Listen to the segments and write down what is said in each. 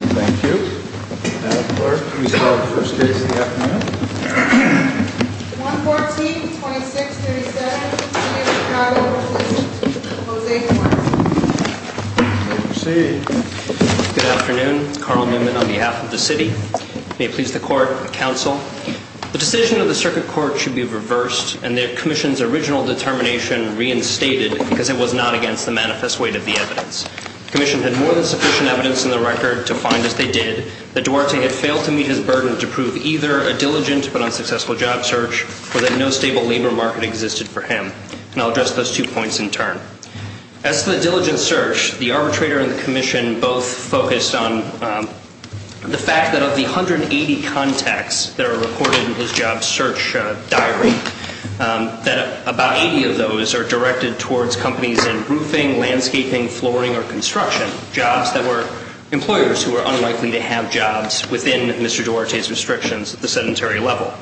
Thank you. Madam Clerk, please call the first case of the afternoon. 114-2637, the City of Chicago v. José Cortes. Proceed. Good afternoon. Carl Newman on behalf of the City. May it please the Court, the Council. The decision of the Circuit Court should be reversed and the Commission's original determination reinstated because it was not against the manifest weight of the evidence. The Commission had more than sufficient evidence in the record to find, as they did, that Duarte had failed to meet his burden to prove either a diligent but unsuccessful job search or that no stable labor market existed for him. And I'll address those two points in turn. As to the diligent search, the arbitrator and the Commission both focused on the fact that of the 180 contacts that are recorded in his job search diary, that about 80 of those are directed towards companies in roofing, landscaping, flooring, or construction, jobs that were employers who were unlikely to have jobs within Mr. Duarte's restrictions at the sedentary level.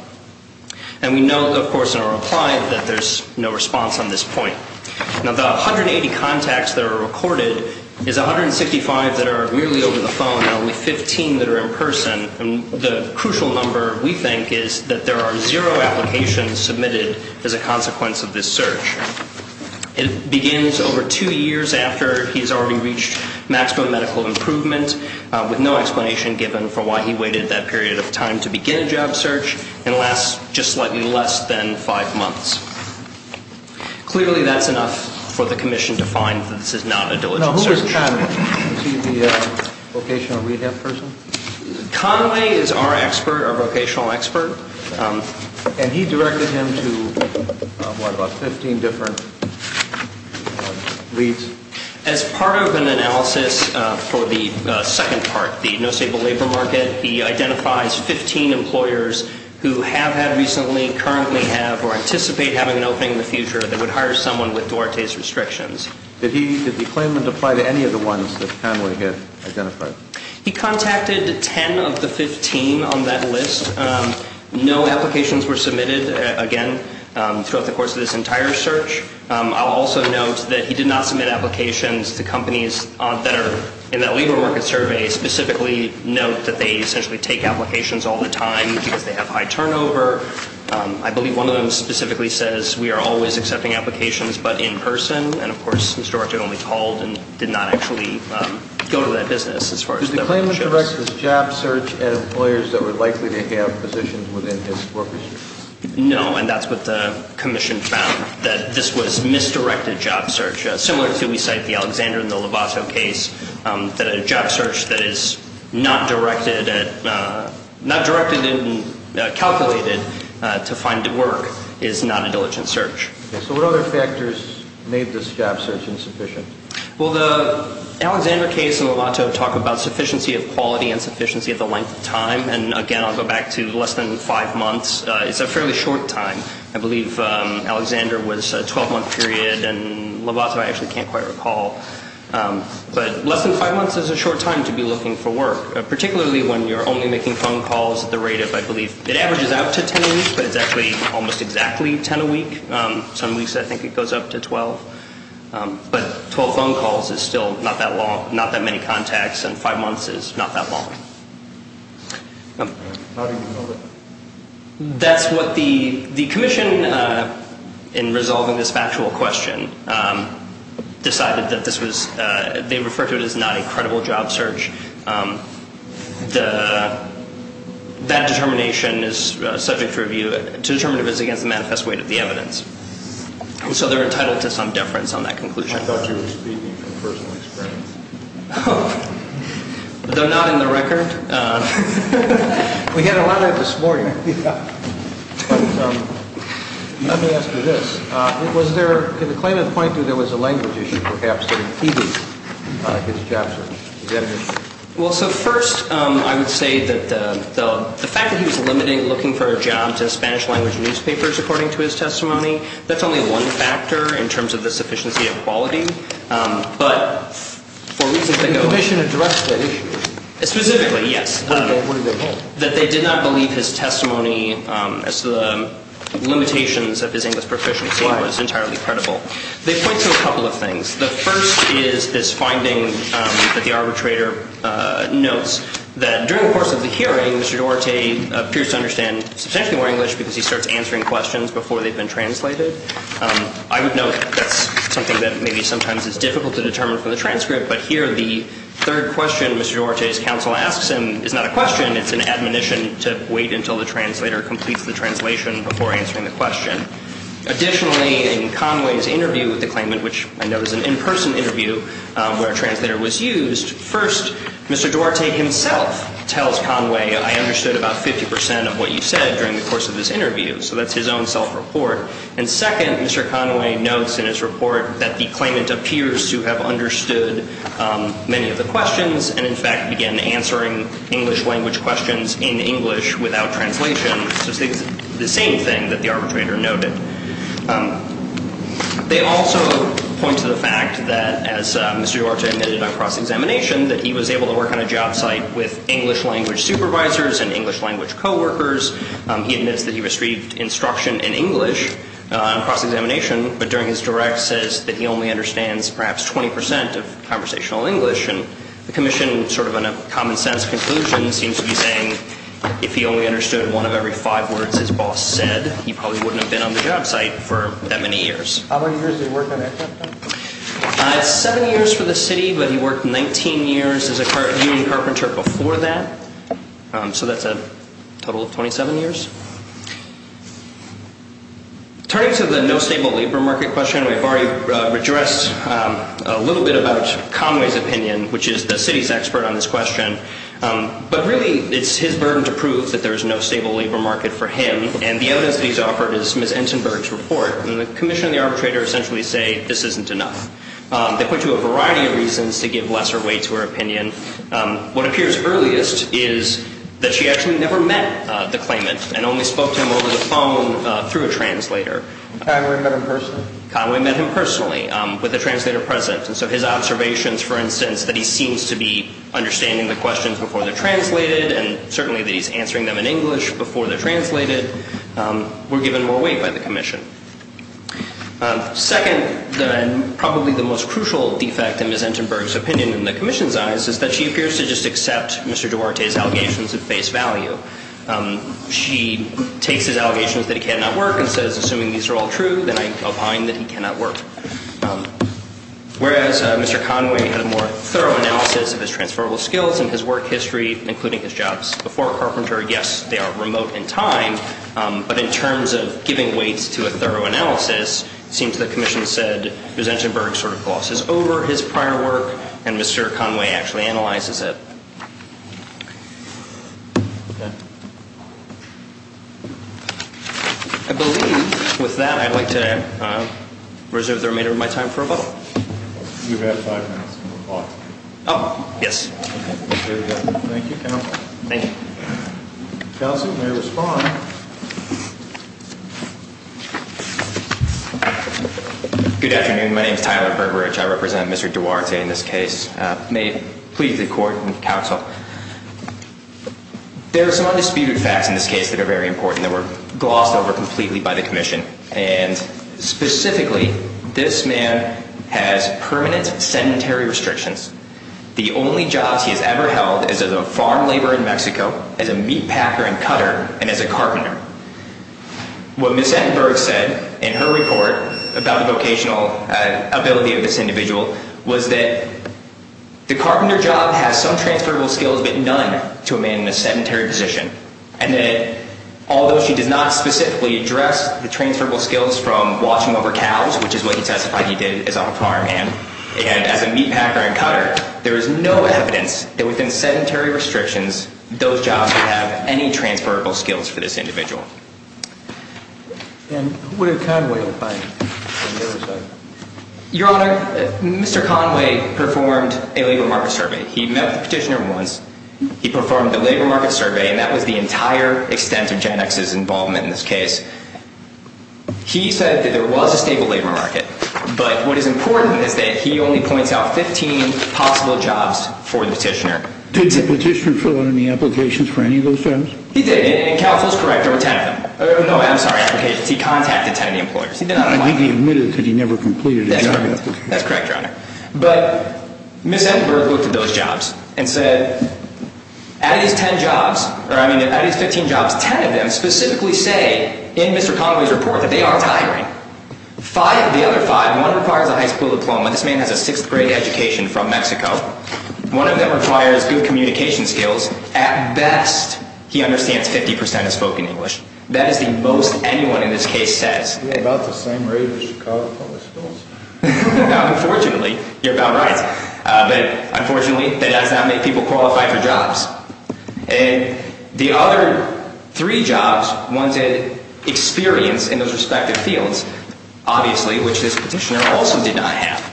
And we know, of course, in our reply that there's no response on this point. Now, the 180 contacts that are recorded is 165 that are weirdly over the phone and only 15 that are in person. And the crucial number, we think, is that there are zero applications submitted as a consequence of this search. It begins over two years after he's already reached maximum medical improvement with no explanation given for why he waited that period of time to begin a job search and lasts just slightly less than five months. Clearly, that's enough for the Commission to find that this is not a diligent search. Now, who is Conway? Is he the vocational rehab person? Conway is our expert, our vocational expert. And he directed him to, what, about 15 different leads? As part of an analysis for the second part, the no-sable labor market, he identifies 15 employers who have had recently, currently have, or anticipate having an opening in the future that would hire someone with Duarte's restrictions. Did he claim and apply to any of the ones that Conway had identified? He contacted 10 of the 15 on that list. No applications were submitted, again, throughout the course of this entire search. I'll also note that he did not submit applications to companies that are in that labor market survey, specifically note that they essentially take applications all the time because they have high turnover. I believe one of them specifically says, we are always accepting applications but in person. And, of course, Mr. Duarte only called and did not actually go to that business as far as that was shown. Did the claimant direct his job search at employers that were likely to have positions within his corpus? No, and that's what the commission found, that this was misdirected job search. Similar to we cite the Alexander and the Lovato case, that a job search that is not directed and calculated to find work is not a diligent search. So what other factors made this job search insufficient? Well, the Alexander case and Lovato talk about sufficiency of quality and sufficiency of the length of time. And, again, I'll go back to less than five months. It's a fairly short time. I believe Alexander was a 12-month period and Lovato I actually can't quite recall. But less than five months is a short time to be looking for work, particularly when you're only making phone calls at the rate of, I believe, it averages out to 10 a week, but it's actually almost exactly 10 a week. Some weeks I think it goes up to 12. But 12 phone calls is still not that long, not that many contacts, and five months is not that long. How do you know that? That's what the commission, in resolving this factual question, decided that this was, they referred to it as not a credible job search. That determination is subject to review, to determine if it's against the manifest weight of the evidence. And so they're entitled to some deference on that conclusion. I thought you were speaking from personal experience. Though not in the record. We had a lot of it this morning. Yeah. But let me ask you this. Was there, could the claimant point to there was a language issue, perhaps, that impeded his job search? Well, so first I would say that the fact that he was looking for a job to Spanish-language newspapers, according to his testimony, that's only one factor in terms of the sufficiency of quality. But for reasons that go on. The commission addressed that issue. Specifically, yes. What did they hold? That they did not believe his testimony as to the limitations of his English proficiency was entirely credible. They point to a couple of things. The first is this finding that the arbitrator notes, that during the course of the hearing, Mr. Duarte appears to understand substantially more English because he starts answering questions before they've been translated. I would note that's something that maybe sometimes is difficult to determine from the transcript. But here the third question Mr. Duarte's counsel asks him is not a question. It's an admonition to wait until the translator completes the translation before answering the question. Additionally, in Conway's interview with the claimant, which I know is an in-person interview where a translator was used, first, Mr. Duarte himself tells Conway, I understood about 50% of what you said during the course of this interview. So that's his own self-report. And second, Mr. Conway notes in his report that the claimant appears to have understood many of the questions and, in fact, began answering English-language questions in English without translation. So it's the same thing that the arbitrator noted. They also point to the fact that, as Mr. Duarte admitted on cross-examination, that he was able to work on a job site with English-language supervisors and English-language coworkers. He admits that he received instruction in English on cross-examination, but during his direct says that he only understands perhaps 20% of conversational English. And the commission, sort of in a common-sense conclusion, seems to be saying, if he only understood one of every five words his boss said, he probably wouldn't have been on the job site for that many years. How many years did he work on that job site? Seven years for the city, but he worked 19 years as a union carpenter before that. So that's a total of 27 years. Turning to the no-stable labor market question, we've already addressed a little bit about Conway's opinion, which is the city's expert on this question. But really, it's his burden to prove that there's no stable labor market for him, and the evidence that he's offered is Ms. Entenberg's report. And the commission and the arbitrator essentially say this isn't enough. They point to a variety of reasons to give lesser weight to her opinion. What appears earliest is that she actually never met the claimant and only spoke to him over the phone through a translator. Conway met him personally? Conway met him personally with a translator present. So his observations, for instance, that he seems to be understanding the questions before they're translated and certainly that he's answering them in English before they're translated, were given more weight by the commission. Second, and probably the most crucial defect in Ms. Entenberg's opinion in the commission's eyes, is that she appears to just accept Mr. Duarte's allegations of face value. She takes his allegations that he cannot work and says, assuming these are all true, then I opine that he cannot work. Whereas Mr. Conway had a more thorough analysis of his transferable skills and his work history, including his jobs before Carpenter. Yes, they are remote in time, but in terms of giving weight to a thorough analysis, it seems the commission said Ms. Entenberg sort of glosses over his prior work and Mr. Conway actually analyzes it. I believe, with that, I'd like to reserve the remainder of my time for a vote. You have five minutes. Oh, yes. Thank you, counsel. Thank you. Counsel, you may respond. Good afternoon. My name is Tyler Burbridge. I represent Mr. Duarte in this case. May it please the court and counsel. There are some undisputed facts in this case that are very important that were glossed over completely by the commission, and specifically this man has permanent sedentary restrictions. The only jobs he has ever held is as a farm laborer in Mexico, as a meat packer and cutter, and as a carpenter. What Ms. Entenberg said in her report about the vocational ability of this individual was that the carpenter job has some transferable skills, but none to a man in a sedentary position, and that although she does not specifically address the transferable skills from watching over cows, which is what he testified he did as a farm hand, and as a meat packer and cutter, there is no evidence that within sedentary restrictions, those jobs have any transferable skills for this individual. And what did Conway find? Your Honor, Mr. Conway performed a labor market survey. He met with the petitioner once. He performed a labor market survey, and that was the entire extent of GenX's involvement in this case. He said that there was a stable labor market, but what is important is that he only points out 15 possible jobs for the petitioner. Did the petitioner fill out any applications for any of those jobs? He did, and counsel is correct, there were 10 of them. No, I'm sorry, applications. Yes, he contacted 10 of the employers. I think he admitted because he never completed his application. That's correct, Your Honor. But Ms. Enberg looked at those jobs and said, out of these 15 jobs, 10 of them specifically say in Mr. Conway's report that they aren't hiring. Five of the other five, one requires a high school diploma. This man has a sixth grade education from Mexico. One of them requires good communication skills. At best, he understands 50% of spoken English. That is the most anyone in this case says. About the same rate as Chicago public schools. Now, unfortunately, you're about right. But unfortunately, that does not make people qualify for jobs. And the other three jobs wanted experience in those respective fields, obviously, which this petitioner also did not have.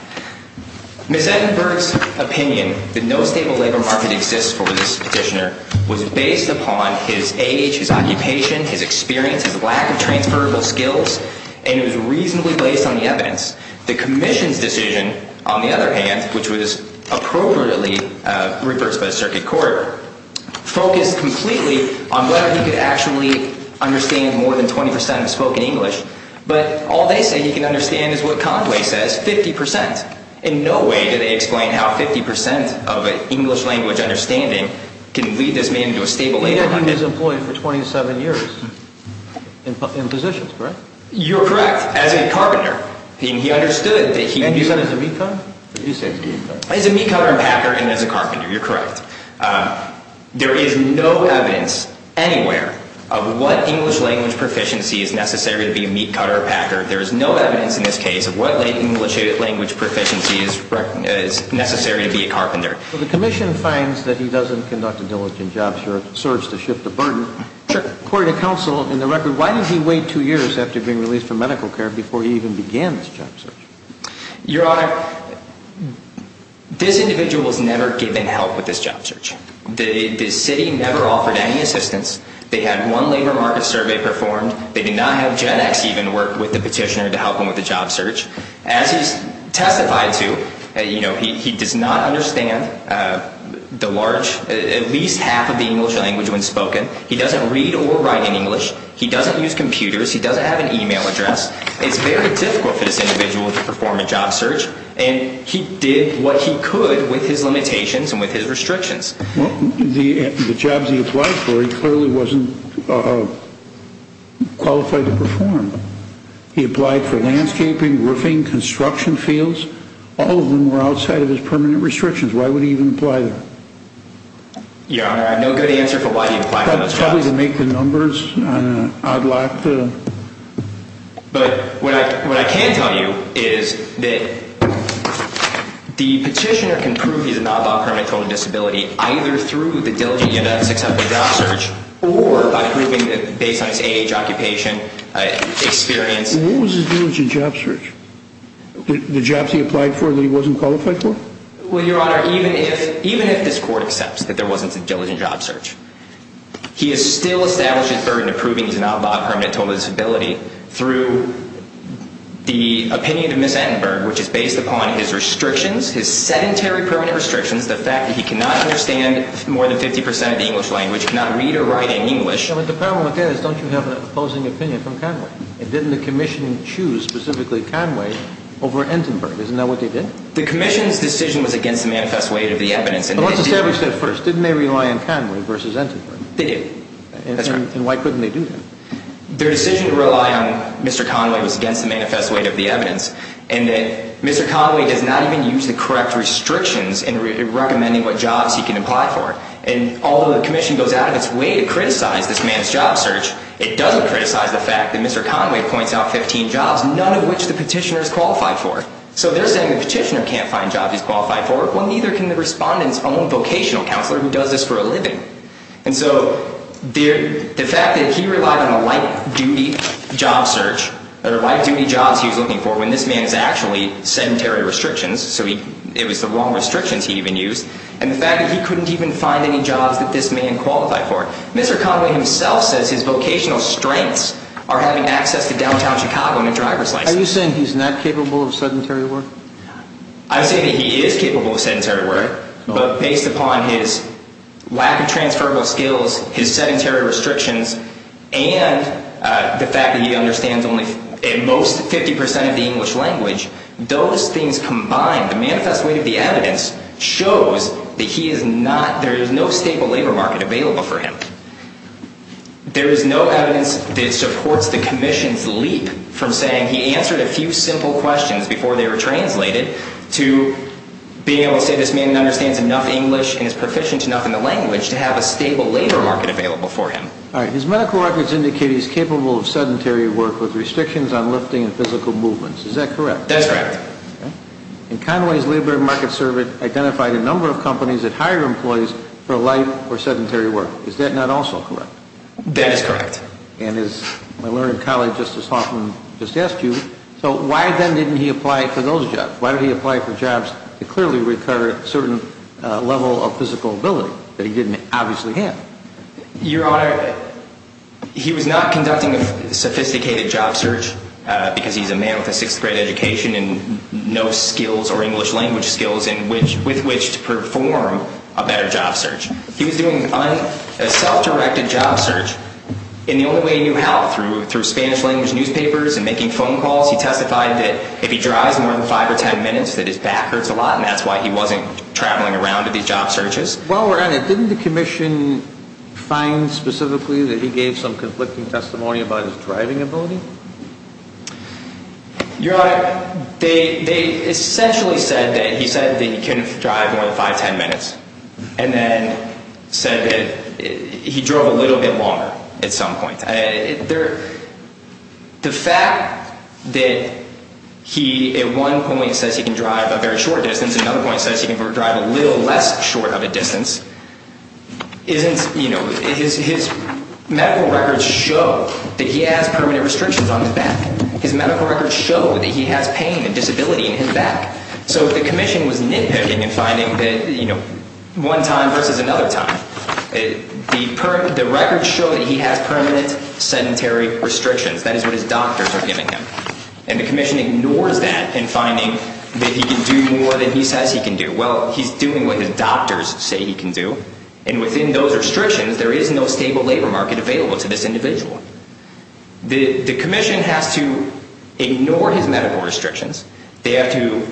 Ms. Enberg's opinion that no stable labor market exists for this petitioner was based upon his age, his occupation, his experience, his lack of transferable skills, and it was reasonably based on the evidence. The commission's decision, on the other hand, which was appropriately reversed by the circuit court, focused completely on whether he could actually understand more than 20% of spoken English. But all they say he can understand is what Conway says, 50%. In no way do they explain how 50% of an English language understanding can lead this man to a stable labor market. He had been his employee for 27 years in positions, correct? You're correct, as a carpenter. And he understood that he could do that. And he said as a meat cutter? He said as a meat cutter. As a meat cutter and packer and as a carpenter, you're correct. There is no evidence anywhere of what English language proficiency is necessary to be a meat cutter or packer. There is no evidence in this case of what English language proficiency is necessary to be a carpenter. Well, the commission finds that he doesn't conduct a diligent job search to shift the burden. Sure. According to counsel, in the record, why did he wait two years after being released from medical care before he even began this job search? Your Honor, this individual was never given help with this job search. The city never offered any assistance. They had one labor market survey performed. They did not have Gen X even work with the petitioner to help him with the job search. As he's testified to, you know, he does not understand the large, at least half of the English language when spoken. He doesn't read or write in English. He doesn't use computers. He doesn't have an e-mail address. It's very difficult for this individual to perform a job search. And he did what he could with his limitations and with his restrictions. Well, the jobs he applied for, he clearly wasn't qualified to perform. He applied for landscaping, roofing, construction fields. All of them were outside of his permanent restrictions. Why would he even apply there? Your Honor, I have no good answer for why he applied for those jobs. Probably to make the numbers on an odd lot. But what I can tell you is that the petitioner can prove he's an odd lot permanent total disability either through the diligence of a successful job search or by proving based on his age, occupation, experience. What was his diligence job search? The jobs he applied for that he wasn't qualified for? Well, Your Honor, even if this court accepts that there wasn't a diligent job search, he has still established his burden of proving he's an odd lot permanent total disability through the opinion of Ms. Entenberg, which is based upon his restrictions, his sedentary permanent restrictions, the fact that he cannot understand more than 50% of the English language, cannot read or write in English. But the problem with that is don't you have an opposing opinion from Conway? And didn't the commission choose specifically Conway over Entenberg? Isn't that what they did? The commission's decision was against the manifest weight of the evidence. But let's establish that first. Didn't they rely on Conway versus Entenberg? They did. And why couldn't they do that? Their decision to rely on Mr. Conway was against the manifest weight of the evidence and that Mr. Conway does not even use the correct restrictions in recommending what jobs he can apply for. And although the commission goes out of its way to criticize this man's job search, it doesn't criticize the fact that Mr. Conway points out 15 jobs, none of which the petitioner is qualified for. So they're saying the petitioner can't find jobs he's qualified for. Well, neither can the respondent's own vocational counselor who does this for a living. And so the fact that he relied on a light-duty job search or light-duty jobs he was looking for when this man is actually sedentary restrictions, so it was the wrong restrictions he even used, and the fact that he couldn't even find any jobs that this man qualified for. Mr. Conway himself says his vocational strengths are having access to downtown Chicago and a driver's license. Are you saying he's not capable of sedentary work? I'm saying that he is capable of sedentary work, but based upon his lack of transferable skills, his sedentary restrictions, and the fact that he understands only at most 50 percent of the English language, those things combined, the manifest weight of the evidence shows that he is not, there is no stable labor market available for him. There is no evidence that supports the commission's leap from saying he answered a few simple questions before they were translated to being able to say this man understands enough English and is proficient enough in the language to have a stable labor market available for him. All right. His medical records indicate he's capable of sedentary work with restrictions on lifting and physical movements. Is that correct? That is correct. Okay. And Conway's labor market survey identified a number of companies that hire employees for light or sedentary work. Is that not also correct? That is correct. And as my learned colleague Justice Hoffman just asked you, so why then didn't he apply for those jobs? Why did he apply for jobs that clearly required a certain level of physical ability that he didn't obviously have? Your Honor, he was not conducting a sophisticated job search because he's a man with a sixth-grade education and no skills or English language skills with which to perform a better job search. He was doing a self-directed job search. And the only way he knew how, through Spanish-language newspapers and making phone calls, he testified that if he drives more than five or ten minutes that his back hurts a lot and that's why he wasn't traveling around at these job searches. While we're on it, didn't the commission find specifically that he gave some conflicting testimony about his driving ability? Your Honor, they essentially said that he said that he couldn't drive more than five, ten minutes. And then said that he drove a little bit longer at some point. The fact that he at one point says he can drive a very short distance, another point says he can drive a little less short of a distance, his medical records show that he has permanent restrictions on his back. His medical records show that he has pain and disability in his back. So the commission was nitpicking and finding that one time versus another time. The records show that he has permanent sedentary restrictions. That is what his doctors are giving him. And the commission ignores that in finding that he can do more than he says he can do. Well, he's doing what his doctors say he can do. And within those restrictions, there is no stable labor market available to this individual. The commission has to ignore his medical restrictions. They have to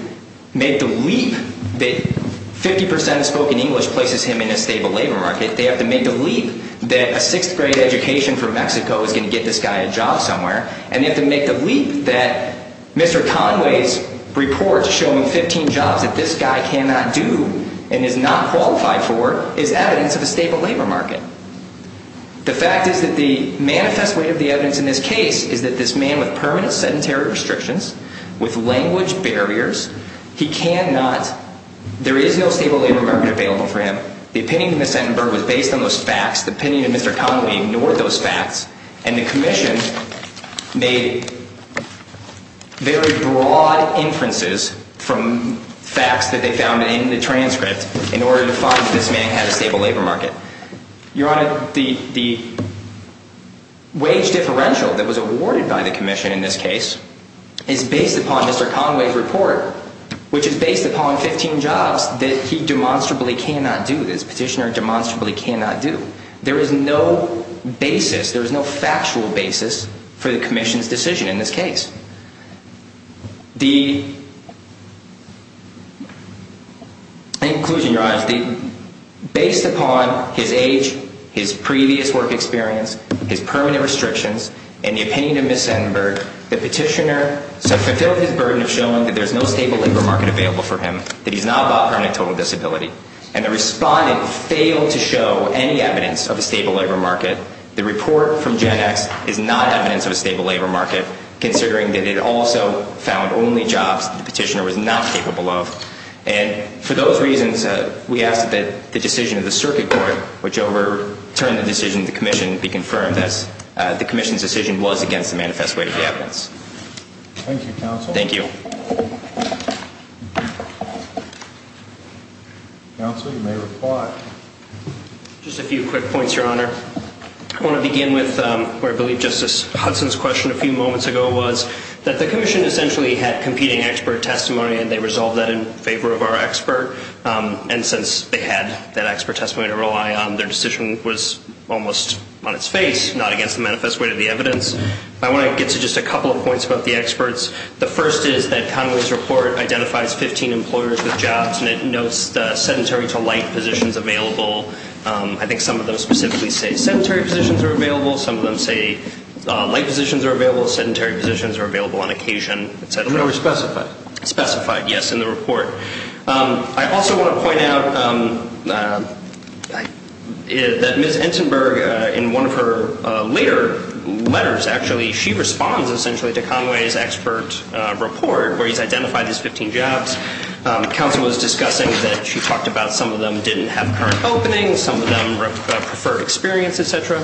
make the leap that 50% of spoken English places him in a stable labor market. They have to make the leap that a sixth-grade education from Mexico is going to get this guy a job somewhere. And they have to make the leap that Mr. Conway's report showing 15 jobs that this guy cannot do and is not qualified for is evidence of a stable labor market. The fact is that the manifest weight of the evidence in this case is that this man with permanent sedentary restrictions, with language barriers, he cannot, there is no stable labor market available for him. The opinion of Ms. Setenberg was based on those facts. The opinion of Mr. Conway ignored those facts. And the commission made very broad inferences from facts that they found in the transcript in order to find that this man had a stable labor market. Your Honor, the wage differential that was awarded by the commission in this case is based upon Mr. Conway's report, which is based upon 15 jobs that he demonstrably cannot do, this petitioner demonstrably cannot do. There is no basis, there is no factual basis for the commission's decision in this case. The, in conclusion, Your Honor, based upon his age, his previous work experience, his permanent restrictions, and the opinion of Ms. Setenberg, the petitioner has fulfilled his burden of showing that there is no stable labor market available for him, that he's not about permanent total disability. And the respondent failed to show any evidence of a stable labor market. The report from Gen X is not evidence of a stable labor market considering that it also found only jobs that the petitioner was not capable of. And for those reasons, we ask that the decision of the circuit court, which overturned the decision of the commission, be confirmed as the commission's decision was against the manifest way of the evidence. Thank you, Counsel. Thank you. Counsel, you may reply. Just a few quick points, Your Honor. I want to begin with where I believe Justice Hudson's question a few moments ago was that the commission essentially had competing expert testimony and they resolved that in favor of our expert. And since they had that expert testimony to rely on, their decision was almost on its face, not against the manifest way of the evidence. I want to get to just a couple of points about the experts. The first is that Conway's report identifies 15 employers with jobs and it notes the sedentary to light positions available. I think some of them specifically say sedentary positions are available. Some of them say light positions are available. Sedentary positions are available on occasion, et cetera. No, they're specified. Specified, yes, in the report. I also want to point out that Ms. Entenberg, in one of her later letters actually, she responds essentially to Conway's expert report where he's identified these 15 jobs. Counsel was discussing that she talked about some of them didn't have current openings, some of them preferred experience, et cetera.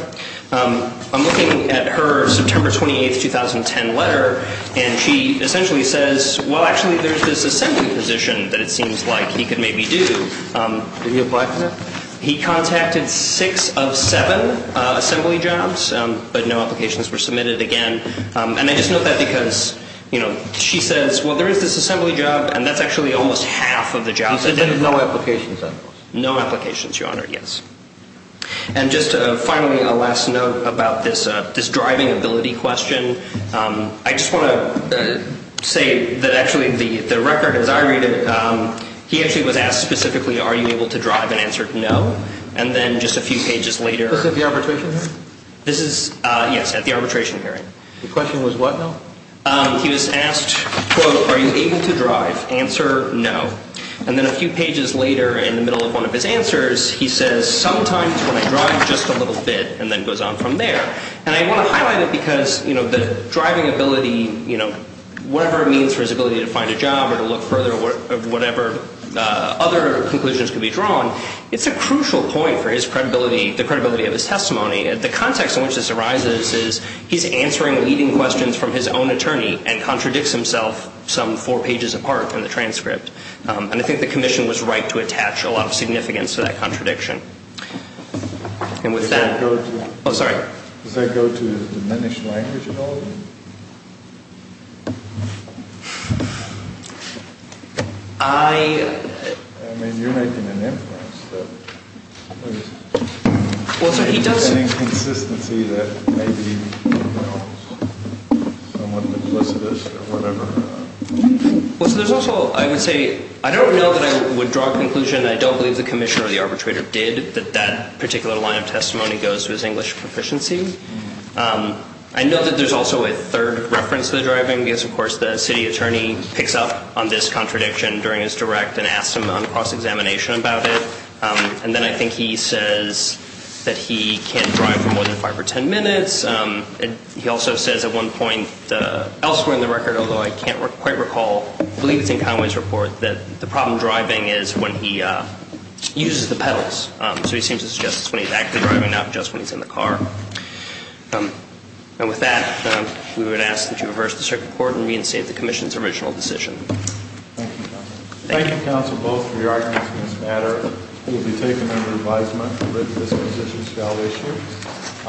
I'm looking at her September 28, 2010 letter, and she essentially says, well, actually there's this assembly position that it seems like he could maybe do. Did he apply for that? He contacted six of seven assembly jobs, but no applications were submitted again. And I just note that because she says, well, there is this assembly job, and that's actually almost half of the jobs. So there's no applications, I suppose. No applications, Your Honor, yes. And just finally, a last note about this driving ability question. I just want to say that actually the record, as I read it, he actually was asked specifically, are you able to drive, and answered no. And then just a few pages later. Was this at the arbitration hearing? This is, yes, at the arbitration hearing. The question was what, though? He was asked, quote, are you able to drive, answer no. And then a few pages later, in the middle of one of his answers, he says sometimes when I drive just a little bit, and then goes on from there. And I want to highlight it because the driving ability, whatever it means for his ability to find a job or to look further, whatever other conclusions can be drawn, it's a crucial point for his credibility, the credibility of his testimony. The context in which this arises is he's answering leading questions from his own attorney and contradicts himself some four pages apart from the transcript. And I think the commission was right to attach a lot of significance to that contradiction. And with that. Does that go to his diminished language ability? I. I mean, you're making an inference. Well, so he does. Well, so there's also, I would say, I don't know that I would draw a conclusion. I don't believe the commissioner or the arbitrator did, that that particular line of testimony goes to his English proficiency. I know that there's also a third reference to the driving because, of course, the city attorney picks up on this contradiction during his direct and asks him on cross-examination about it. And then I think he says that he can't drive for more than five or ten minutes. He also says at one point elsewhere in the record, although I can't quite recall, I believe it's in Conway's report, that the problem driving is when he uses the pedals. So he seems to suggest it's when he's actually driving, not just when he's in the car. And with that, we would ask that you reverse the circuit court and reinstate the commission's original decision. Thank you, counsel. Thank you, counsel, both for your arguments in this matter. It will be taken under advisement that this position shall issue.